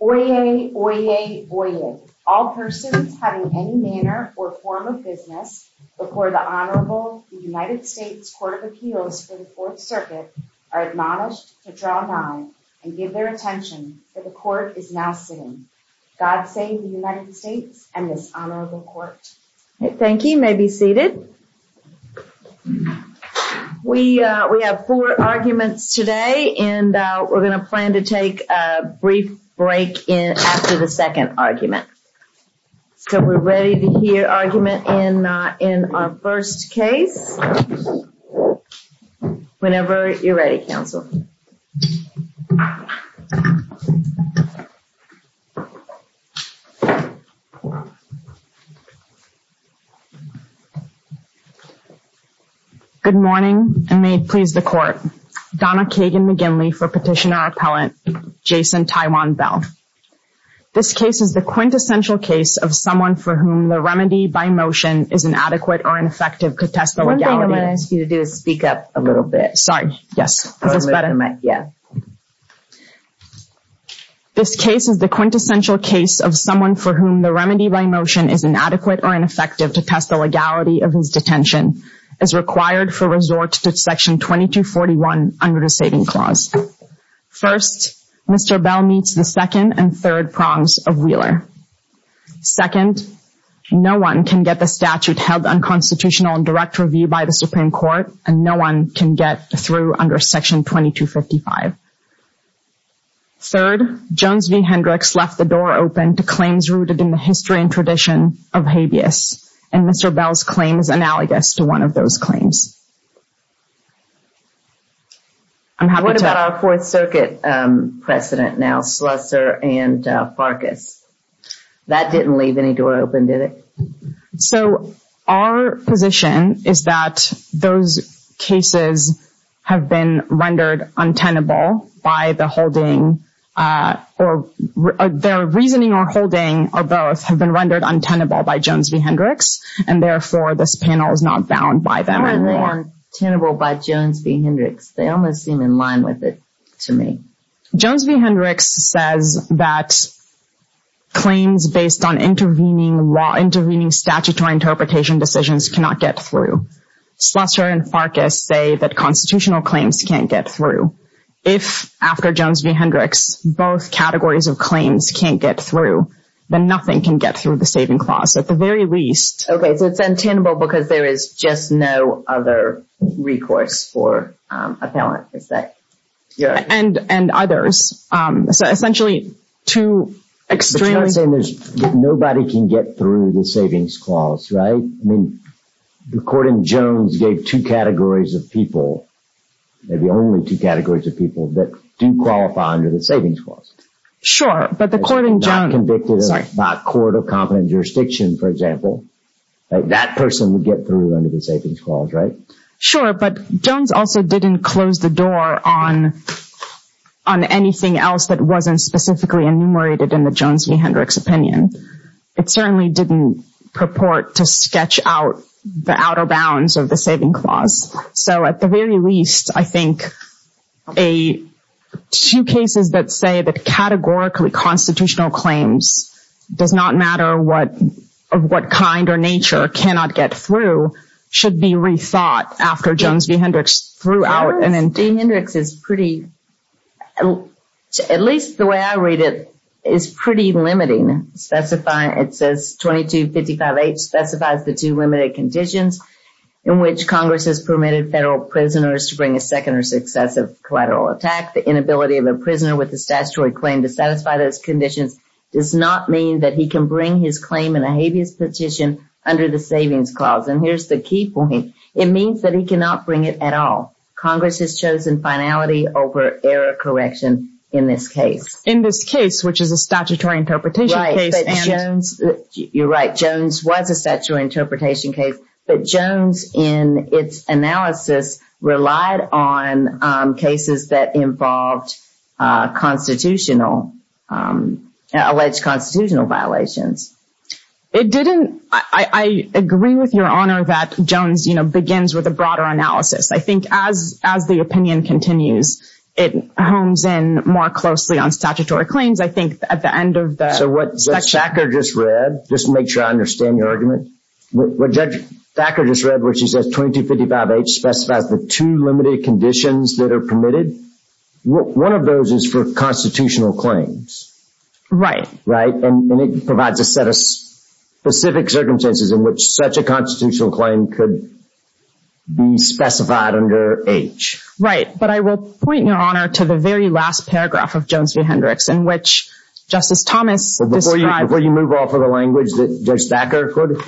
Oyez, oyez, oyez. All persons having any manner or form of business before the Honorable United States Court of Appeals for the Fourth Circuit are admonished to draw nigh and give their attention, for the Court is now sitting. God save the United States and this Honorable Court. Thank you. You may be seated. We have four arguments today and we're going to plan to take a brief break after the second argument. So we're ready to hear argument in our first case. Whenever you're ready, counsel. Good morning, and may it please the Court. Donna Kagan McGinley for Petitioner Appellant, Jason Tywon Bell. This case is the quintessential case of someone for whom the remedy by motion is inadequate or ineffective to test the legality of his detention. As required for resort to Section 2241 under the Saving Clause. First, Mr. Bell meets the second and third prongs of Wheeler. Second, no one can get the statute held unconstitutional and direct review by the Supreme Court, and no one can get through under Section 2255. Third, Jones v. Hendricks left the door open to claims rooted in the history and tradition of habeas, and Mr. Bell's claim is analogous to one of those claims. What about our Fourth Circuit precedent now, Slusser and Farkas? That didn't leave any door open, did it? So our position is that those cases have been rendered untenable by the holding, or their reasoning or holding, or both, have been rendered untenable by Jones v. Hendricks, and therefore this panel is not bound by them. How are they untenable by Jones v. Hendricks? They almost seem in line with it to me. Jones v. Hendricks says that claims based on intervening statutory interpretation decisions cannot get through. Slusser and Farkas say that constitutional claims can't get through. If, after Jones v. Hendricks, both categories of claims can't get through, then nothing can get through the Saving Clause, at the very least. Okay, so it's untenable because there is just no other recourse for a penalty, is that correct? And others. Essentially, two extremely... But you're not saying that nobody can get through the Savings Clause, right? I mean, the court in Jones gave two categories of people, maybe only two categories of people, that do qualify under the Savings Clause. Sure, but the court in Jones... Not convicted by a court of competent jurisdiction, for example. That person would get through under the Savings Clause, right? Sure, but Jones also didn't close the door on anything else that wasn't specifically enumerated in the Jones v. Hendricks opinion. It certainly didn't purport to sketch out the outer bounds of the Saving Clause. So, at the very least, I think two cases that say that categorically constitutional claims does not matter of what kind or nature cannot get through should be rethought after Jones v. Hendricks threw out an... Well, J. Hendricks is pretty... At least the way I read it, is pretty limiting. It says 2255H specifies the two limited conditions in which Congress has permitted federal prisoners to bring a second or successive collateral attack. The inability of a prisoner with a statutory claim to satisfy those conditions does not mean that he can bring his claim in a habeas petition under the Savings Clause. And here's the key point. It means that he cannot bring it at all. Congress has chosen finality over error correction in this case. In this case, which is a statutory interpretation case and... Right, but Jones... You're right. Jones was a statutory interpretation case, but Jones, in its analysis, relied on cases that involved constitutional... alleged constitutional violations. It didn't... I agree with Your Honor that Jones, you know, begins with a broader analysis. I think as the opinion continues, it hones in more closely on statutory claims. I think at the end of the... So, what Judge Thacker just read, just to make sure I understand your argument, what Judge Thacker just read where she says 2255H specifies the two limited conditions that are permitted, one of those is for constitutional claims. Right. Right, and it provides a set of specific circumstances in which such a constitutional claim could be specified under H. Right, but I will point, Your Honor, to the very last paragraph of Jones v. Hendricks in which Justice Thomas described... Before you move off of the language that Judge Thacker quoted,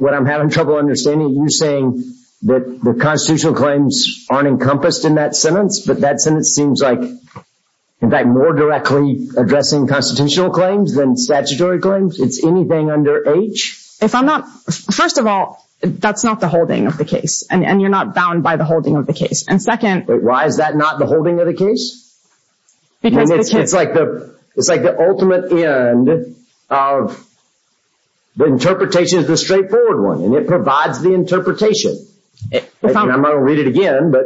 what I'm having trouble understanding, you're saying that the constitutional claims aren't encompassed in that sentence, but that sentence seems like, in fact, more directly addressing constitutional claims than statutory claims? It's anything under H? If I'm not... First of all, that's not the holding of the case, and you're not bound by the holding of the case. And second... Wait, why is that not the holding of the case? Because the case... It's like the ultimate end of the interpretation is the straightforward one, and it provides the interpretation. And I'm going to read it again, but...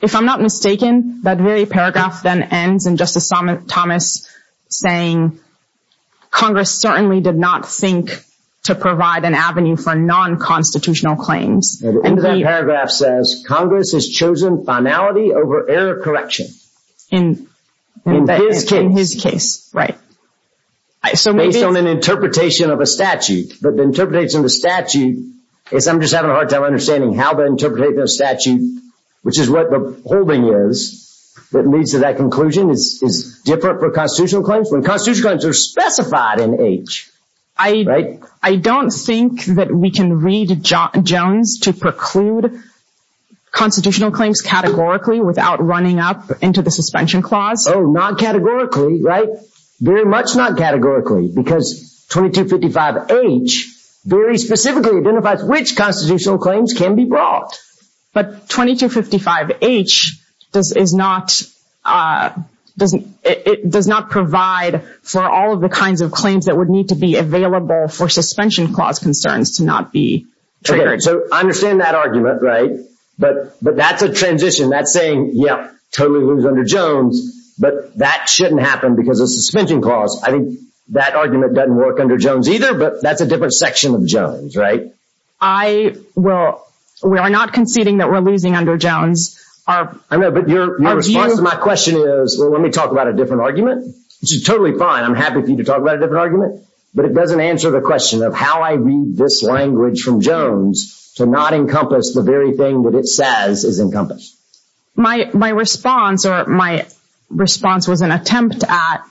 If I'm not mistaken, that very paragraph then ends in Justice Thomas saying, Congress certainly did not think to provide an avenue for non-constitutional claims. The end of that paragraph says, Congress has chosen finality over error correction. In his case, right. Based on an interpretation of a statute, but the interpretation of the statute is... I'm just having a hard time understanding how to interpret the statute, which is what the holding is, that leads to that conclusion is different for constitutional claims when constitutional claims are specified in H. I don't think that we can read Jones to preclude constitutional claims categorically without running up into the suspension clause. Oh, not categorically, right? Very much not categorically, because 2255H very specifically identifies which constitutional claims can be brought. But 2255H does not provide for all of the kinds of claims that would need to be available for suspension clause concerns to not be triggered. Okay, so I understand that argument, right? But that's a transition. That's saying, yep, totally lose under Jones, but that shouldn't happen because of suspension clause. I think that argument doesn't work under Jones either, but that's a different section of Jones, right? We are not conceding that we're losing under Jones. I know, but your response to my question is, well, let me talk about a different argument, which is totally fine. I'm happy for you to talk about a different argument. But it doesn't answer the question of how I read this language from Jones to not encompass the very thing that it says is encompassed. My response or my response was an attempt at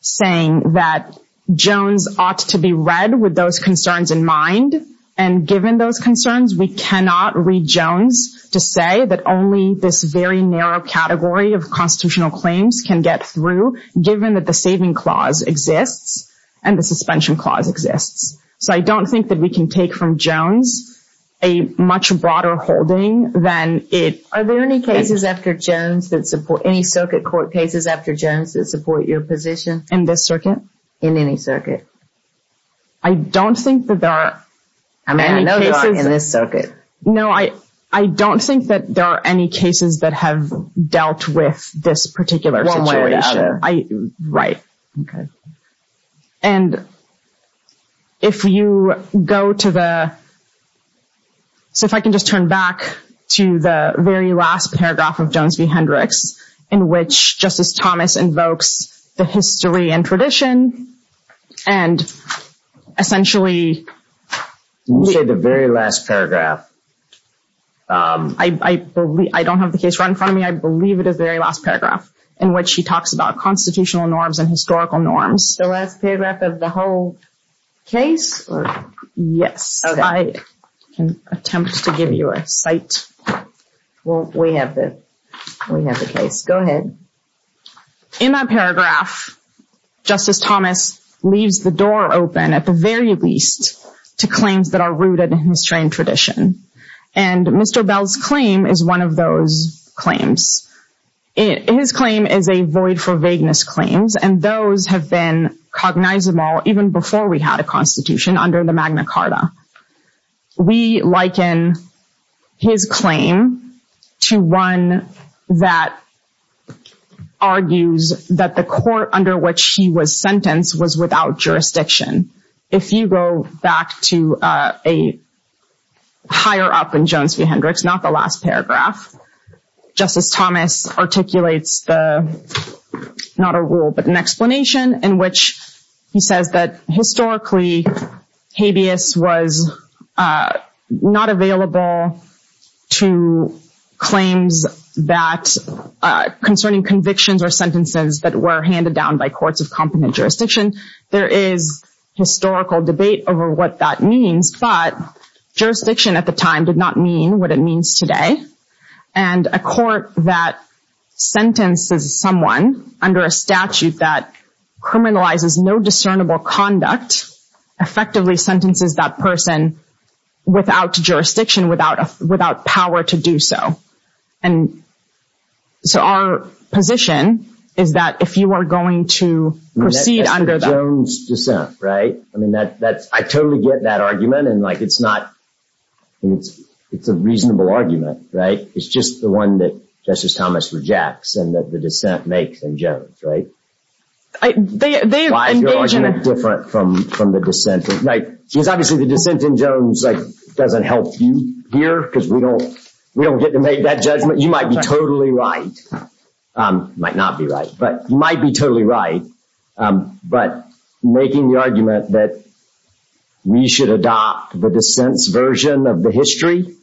saying that Jones ought to be read with those concerns in mind. And given those concerns, we cannot read Jones to say that only this very narrow category of constitutional claims can get through, given that the saving clause exists and the suspension clause exists. So I don't think that we can take from Jones a much broader holding than it... Are there any cases after Jones that support, any circuit court cases after Jones that support your position? In this circuit? In any circuit. I don't think that there are... I mean, I know you're in this circuit. No, I don't think that there are any cases that have dealt with this particular situation. One way or the other. Right. Okay. And if you go to the... So if I can just turn back to the very last paragraph of Jones v. Hendricks, in which Justice Thomas invokes the history and tradition and essentially... You said the very last paragraph. I don't have the case right in front of me. I believe it is the very last paragraph in which he talks about constitutional norms and historical norms. The last paragraph of the whole case? Yes. Okay. I can attempt to give you a cite. Well, we have the case. Go ahead. In that paragraph, Justice Thomas leaves the door open, at the very least, to claims that are rooted in history and tradition. And Mr. Bell's claim is one of those claims. His claim is a void for vagueness claims, and those have been cognizable even before we had a constitution under the Magna Carta. We liken his claim to one that argues that the court under which he was sentenced was without jurisdiction. If you go back to a higher up in Jones v. Hendricks, not the last paragraph, Justice Thomas articulates not a rule, but an explanation, in which he says that historically, habeas was not available to claims concerning convictions or sentences that were handed down by courts of competent jurisdiction. There is historical debate over what that means, but jurisdiction at the time did not mean what it means today. And a court that sentences someone under a statute that criminalizes no discernible conduct effectively sentences that person without jurisdiction, without power to do so. And so our position is that if you are going to proceed under that— That's the Jones dissent, right? I mean, I totally get that argument, and it's a reasonable argument, right? It's just the one that Justice Thomas rejects and that the dissent makes in Jones, right? They engage in a— Because obviously the dissent in Jones doesn't help you here because we don't get to make that judgment. You might be totally right. You might not be right, but you might be totally right. But making the argument that we should adopt the dissent's version of the history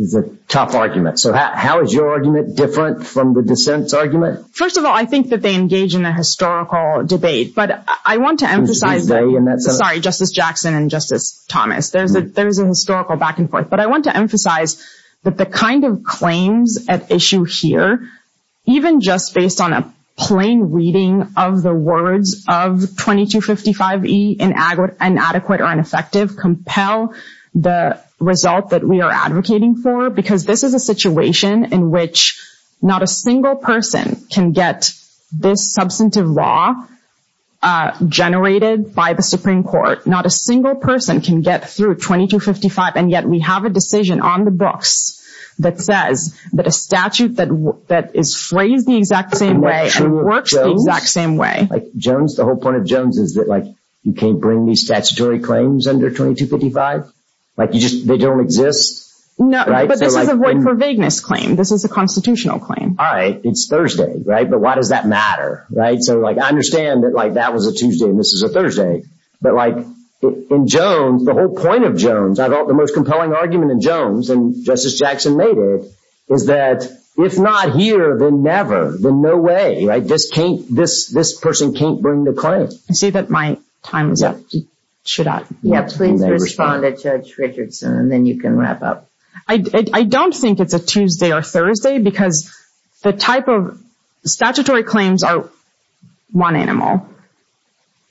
is a tough argument. So how is your argument different from the dissent's argument? First of all, I think that they engage in a historical debate, but I want to emphasize— Sorry, Justice Jackson and Justice Thomas. There's a historical back and forth. But I want to emphasize that the kind of claims at issue here, even just based on a plain reading of the words of 2255e, inadequate or ineffective, compel the result that we are advocating for because this is a situation in which not a single person can get this substantive law generated by the Supreme Court. Not a single person can get through 2255, and yet we have a decision on the books that says that a statute that is phrased the exact same way and works the exact same way. The whole point of Jones is that you can't bring these statutory claims under 2255. They don't exist. No, but this is a Void for Vagueness claim. This is a constitutional claim. All right. It's Thursday. But why does that matter? I understand that that was a Tuesday and this is a Thursday. But in Jones, the whole point of Jones, I thought the most compelling argument in Jones, and Justice Jackson made it, is that if not here, then never, then no way. Right. This person can't bring the claim. I see that my time is up. Should I? Please respond to Judge Richardson and then you can wrap up. I don't think it's a Tuesday or Thursday because the type of statutory claims are one animal.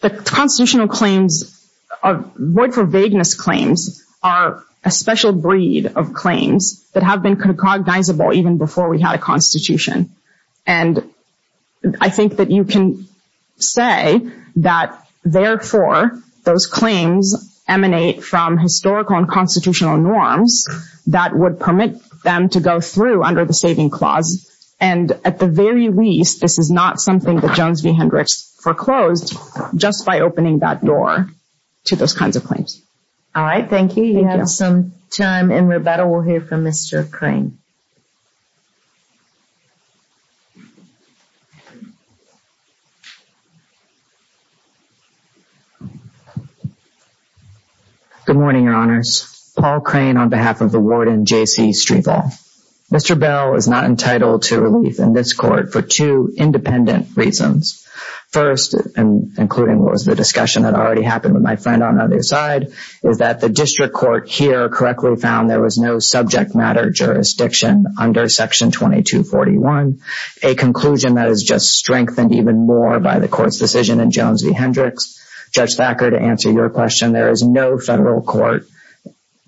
The constitutional claims, Void for Vagueness claims, are a special breed of claims that have been cognizable even before we had a constitution. And I think that you can say that, therefore, those claims emanate from historical and constitutional norms that would permit them to go through under the Saving Clause. And at the very least, this is not something that Jones v. Hendricks foreclosed just by opening that door to those kinds of claims. All right. Thank you. You have some time. And Roberta, we'll hear from Mr. Crane. Good morning, Your Honors. Paul Crane on behalf of the Warden J.C. Strievel. Mr. Bell is not entitled to relief in this court for two independent reasons. First, and including what was the discussion that already happened with my friend on the other side, is that the district court here correctly found there was no subject matter jurisdiction under Section 2241, a conclusion that is just strengthened even more by the court's decision in Jones v. Hendricks. Judge Thacker, to answer your question, there is no federal court,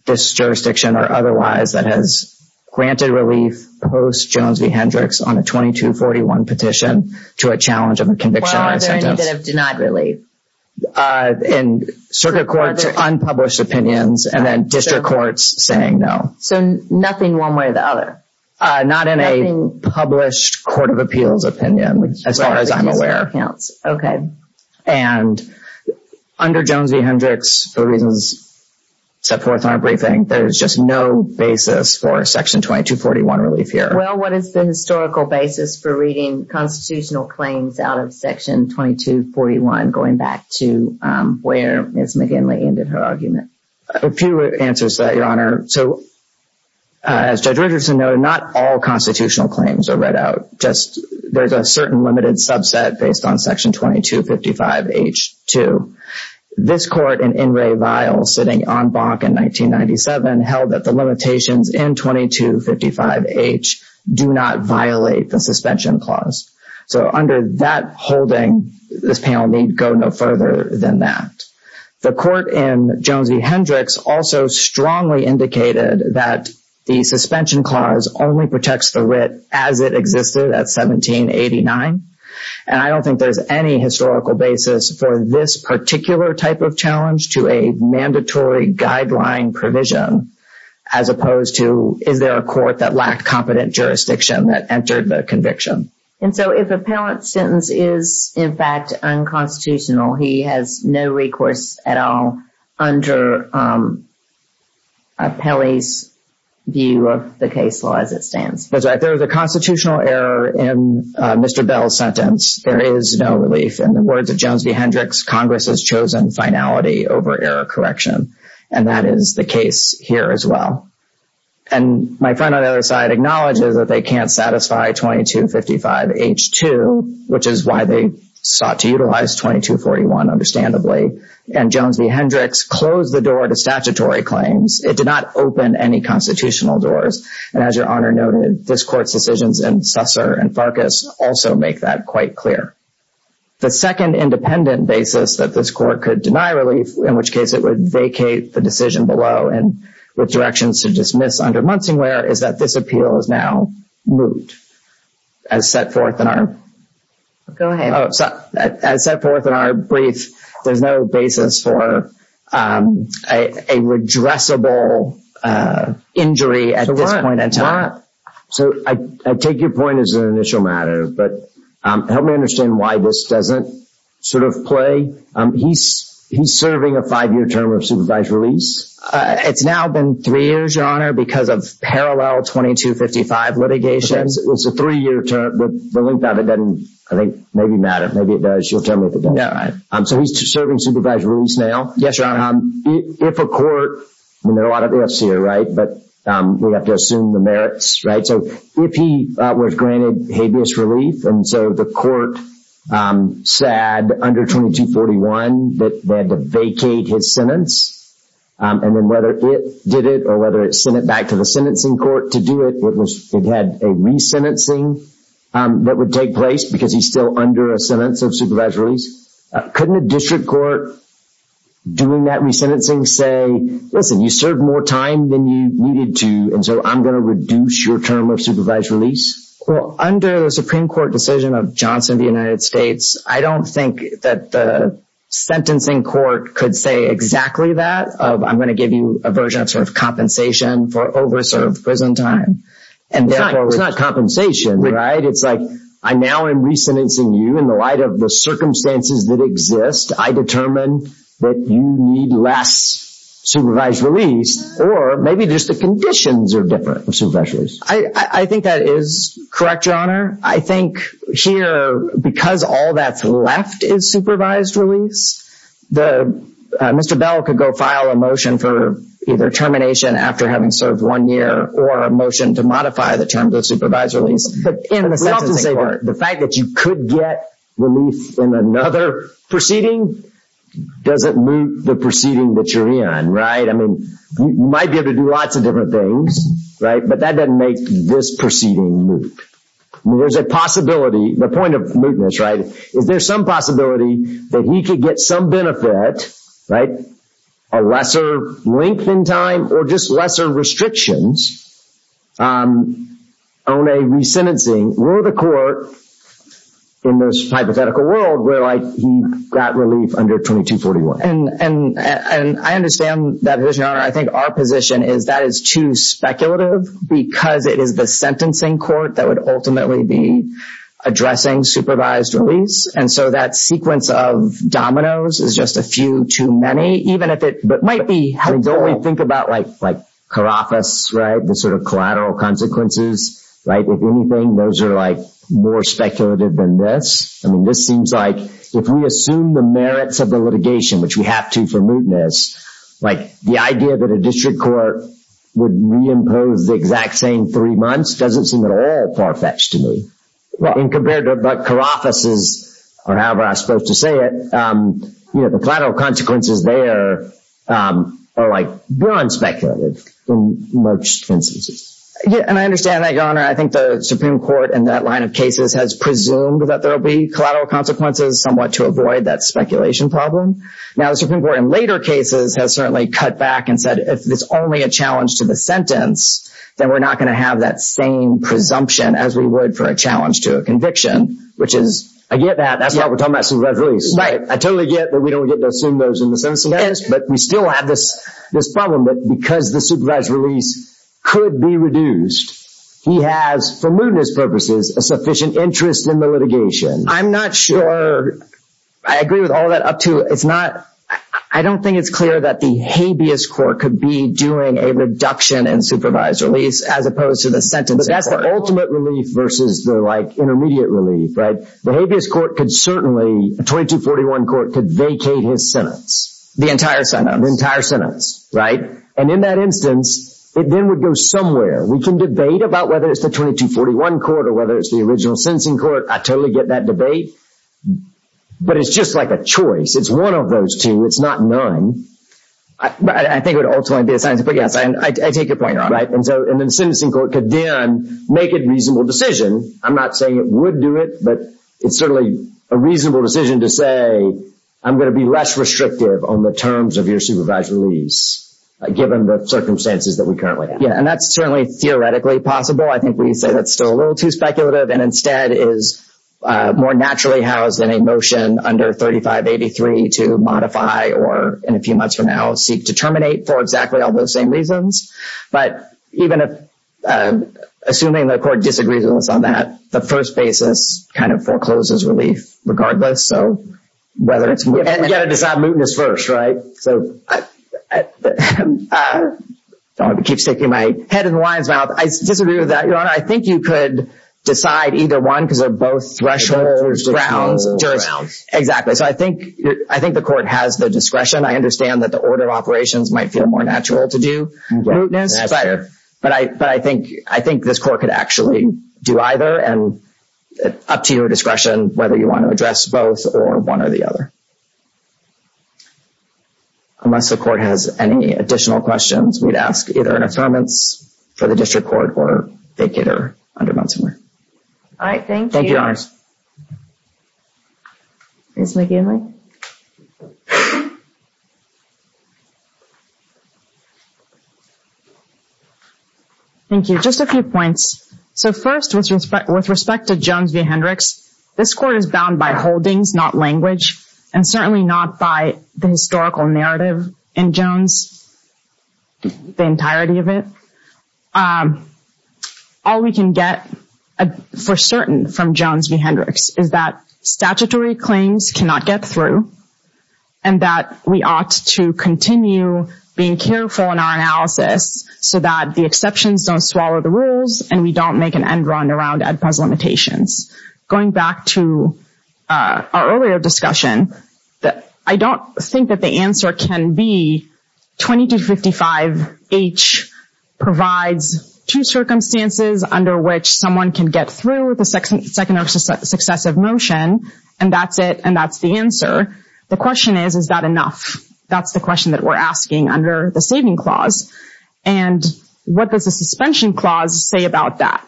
this jurisdiction or otherwise, that has granted relief post-Jones v. Hendricks on a 2241 petition to a challenge of a conviction or a sentence. Well, are there any that have denied relief? In circuit courts, unpublished opinions, and then district courts saying no. So nothing one way or the other? Not in a published court of appeals opinion, as far as I'm aware. And under Jones v. Hendricks, for reasons set forth in our briefing, there is just no basis for Section 2241 relief here. Well, what is the historical basis for reading constitutional claims out of Section 2241, going back to where Ms. McGinley ended her argument? A few answers to that, Your Honor. So, as Judge Richardson noted, not all constitutional claims are read out. There's a certain limited subset based on Section 2255H-2. This court in In re Vial, sitting en banc in 1997, held that the limitations in 2255H do not violate the suspension clause. So under that holding, this panel need go no further than that. The court in Jones v. Hendricks also strongly indicated that the suspension clause only protects the writ as it existed at 1789. And I don't think there's any historical basis for this particular type of challenge to a mandatory guideline provision, as opposed to, is there a court that lacked competent jurisdiction that entered the conviction? And so if a parent's sentence is, in fact, unconstitutional, he has no recourse at all under appellee's view of the case law as it stands. That's right. There is a constitutional error in Mr. Bell's sentence. There is no relief. In the words of Jones v. Hendricks, Congress has chosen finality over error correction. And that is the case here as well. And my friend on the other side acknowledges that they can't satisfy 2255H-2, which is why they sought to utilize 2241, understandably. And Jones v. Hendricks closed the door to statutory claims. It did not open any constitutional doors. And as Your Honor noted, this court's decisions in Susser and Farkas also make that quite clear. The second independent basis that this court could deny relief, in which case it would vacate the decision below, and with directions to dismiss under Munsingware, is that this appeal is now moved. As set forth in our brief, there's no basis for a redressable injury at this point in time. Your Honor, so I take your point as an initial matter, but help me understand why this doesn't sort of play. He's serving a five-year term of supervised release. It's now been three years, Your Honor, because of parallel 2255 litigation. It's a three-year term. The length of it doesn't, I think, maybe matter. Maybe it does. You'll tell me if it doesn't. Yeah, right. So he's serving supervised release now. Yes, Your Honor. If a court—and there are a lot of ifs here, right? But we have to assume the merits, right? So if he was granted habeas relief, and so the court said under 2241 that they had to vacate his sentence, and then whether it did it or whether it sent it back to the sentencing court to do it, it had a resentencing that would take place because he's still under a sentence of supervised release. Couldn't a district court doing that resentencing say, listen, you served more time than you needed to, and so I'm going to reduce your term of supervised release? Well, under the Supreme Court decision of Johnson v. United States, I don't think that the sentencing court could say exactly that, of I'm going to give you a version of sort of compensation for over-served prison time. It's not compensation, right? It's like I now am resentencing you in the light of the circumstances that exist. I determine that you need less supervised release, or maybe just the conditions are different for supervised release. I think that is correct, Your Honor. I think here, because all that's left is supervised release, Mr. Bell could go file a motion for either termination after having served one year or a motion to modify the terms of supervised release in the sentencing court. The fact that you could get relief in another proceeding doesn't mean the proceeding that you're in, right? I mean, you might be able to do lots of different things, right? But that doesn't make this proceeding moot. There's a possibility, the point of mootness, right? Is there some possibility that he could get some benefit, right, a lesser length in time or just lesser restrictions on a resentencing? We're the court in this hypothetical world where he got relief under 2241. And I understand that, Your Honor. I think our position is that is too speculative because it is the sentencing court that would ultimately be addressing supervised release. And so that sequence of dominoes is just a few too many, even if it might be helpful. Don't we think about like Carafas, right, the sort of collateral consequences, right? If anything, those are like more speculative than this. I mean, this seems like if we assume the merits of the litigation, which we have to for mootness, like the idea that a district court would reimpose the exact same three months doesn't seem at all far-fetched to me. And compared to what Carafas is, or however I'm supposed to say it, you know, the collateral consequences there are like beyond speculative in most instances. And I understand that, Your Honor. I think the Supreme Court in that line of cases has presumed that there will be collateral consequences somewhat to avoid that speculation problem. Now, the Supreme Court in later cases has certainly cut back and said if it's only a challenge to the sentence, then we're not going to have that same presumption as we would for a challenge to a conviction, which is— I get that. That's why we're talking about supervised release. Right. I totally get that we don't get to assume those in the sentencing case, but we still have this problem that because the supervised release could be reduced, he has, for mootness purposes, a sufficient interest in the litigation. I'm not sure I agree with all that up to. It's not—I don't think it's clear that the habeas court could be doing a reduction in supervised release as opposed to the sentencing court. But that's the ultimate relief versus the, like, intermediate relief, right? The habeas court could certainly—2241 court could vacate his sentence. The entire sentence. The entire sentence, right? And in that instance, it then would go somewhere. We can debate about whether it's the 2241 court or whether it's the original sentencing court. I totally get that debate. But it's just like a choice. It's one of those two. It's not none. I think it would ultimately be a sentencing court. Yes, I take your point on it. And then the sentencing court could then make a reasonable decision. I'm not saying it would do it, but it's certainly a reasonable decision to say, I'm going to be less restrictive on the terms of your supervised release given the circumstances that we currently have. Yeah, and that's certainly theoretically possible. I think we say that's still a little too speculative and instead is more naturally housed in a motion under 3583 to modify or in a few months from now seek to terminate for exactly all those same reasons. But even if—assuming the court disagrees with us on that, the first basis kind of forecloses relief regardless. So whether it's— And we've got to decide mootness first, right? So I keep sticking my head in the lion's mouth. I disagree with that, Your Honor. I think you could decide either one because they're both thresholds, grounds, jurisdictions. So I think the court has the discretion. I understand that the order of operations might feel more natural to do mootness. That's fair. But I think this court could actually do either. And up to your discretion whether you want to address both or one or the other. Unless the court has any additional questions, we'd ask either an affirmance for the district court or vacate or undermine somewhere. All right, thank you. Thank you, Your Honors. Ms. McGinley? Thank you. Just a few points. So first, with respect to Jones v. Hendricks, this court is bound by holdings, not language. And certainly not by the historical narrative in Jones, the entirety of it. All we can get for certain from Jones v. Hendricks is that statutory claims cannot get through and that we ought to continue being careful in our analysis so that the exceptions don't swallow the rules and we don't make an end run around Ed Puz limitations. Going back to our earlier discussion, I don't think that the answer can be 2255H provides two circumstances under which someone can get through the second or successive motion and that's it and that's the answer. The question is, is that enough? That's the question that we're asking under the saving clause. And what does the suspension clause say about that?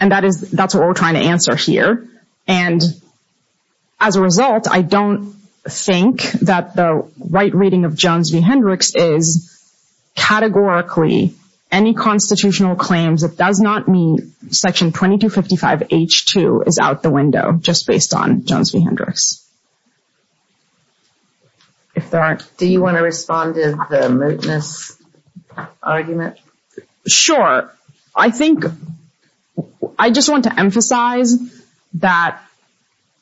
And that's what we're trying to answer here. And as a result, I don't think that the right reading of Jones v. Hendricks is categorically any constitutional claims that does not meet section 2255H2 is out the window just based on Jones v. Hendricks. Do you want to respond to the moteness argument? Sure. I think, I just want to emphasize that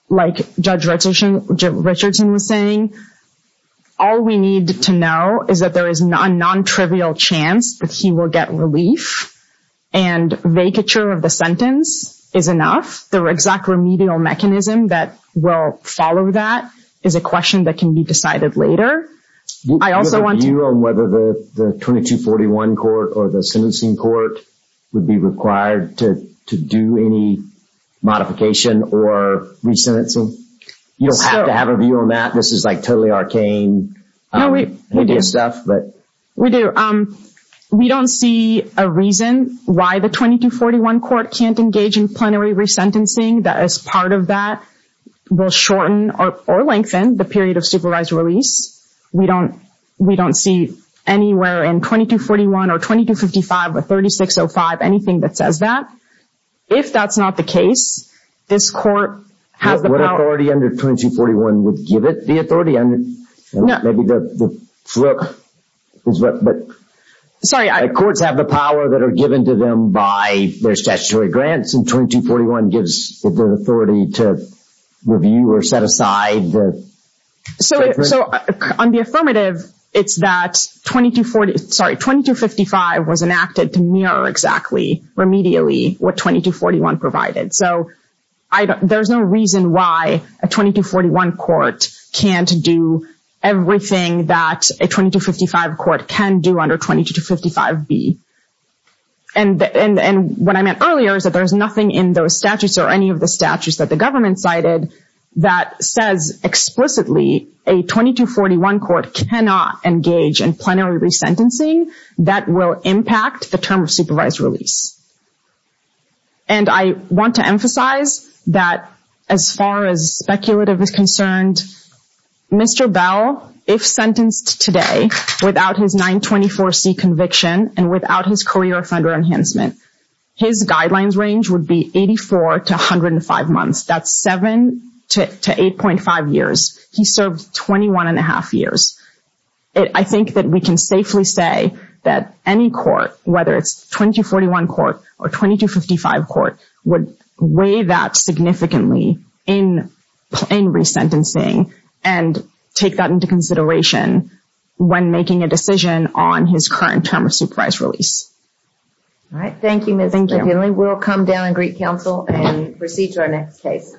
like Judge Richardson was saying, all we need to know is that there is a non-trivial chance that he will get relief and vacature of the sentence is enough. The exact remedial mechanism that will follow that is a question that can be decided later. Do you have a view on whether the 2241 court or the sentencing court would be required to do any modification or resentencing? You don't have to have a view on that. This is like totally arcane. We do. We don't see a reason why the 2241 court can't engage in plenary resentencing that as part of that will shorten or lengthen the period of supervised release. We don't see anywhere in 2241 or 2255 or 3605 anything that says that. If that's not the case, this court has the power. What authority under 2241 would give it the authority? Maybe the fluke. Courts have the power that are given to them by their statutory grants and 2241 gives the authority to review or set aside. On the affirmative, it's that 2245 was enacted to mirror exactly, remedially what 2241 provided. There's no reason why a 2241 court can't do everything that a 2255 court can do under 2255B. What I meant earlier is that there's nothing in those statutes or any of the statutes that the government cited that says explicitly a 2241 court cannot engage in plenary resentencing that will impact the term of supervised release. I want to emphasize that as far as speculative is concerned, Mr. Bell, if sentenced today without his 924C conviction and without his career offender enhancement, his guidelines range would be 84 to 105 months. That's 7 to 8.5 years. He served 21.5 years. I think that we can safely say that any court, whether it's 2241 court or 2255 court, would weigh that significantly in plenary sentencing and take that into consideration when making a decision on his current term of supervised release. All right. Thank you, Ms. McGinley. We'll come down and greet counsel and proceed to our next case.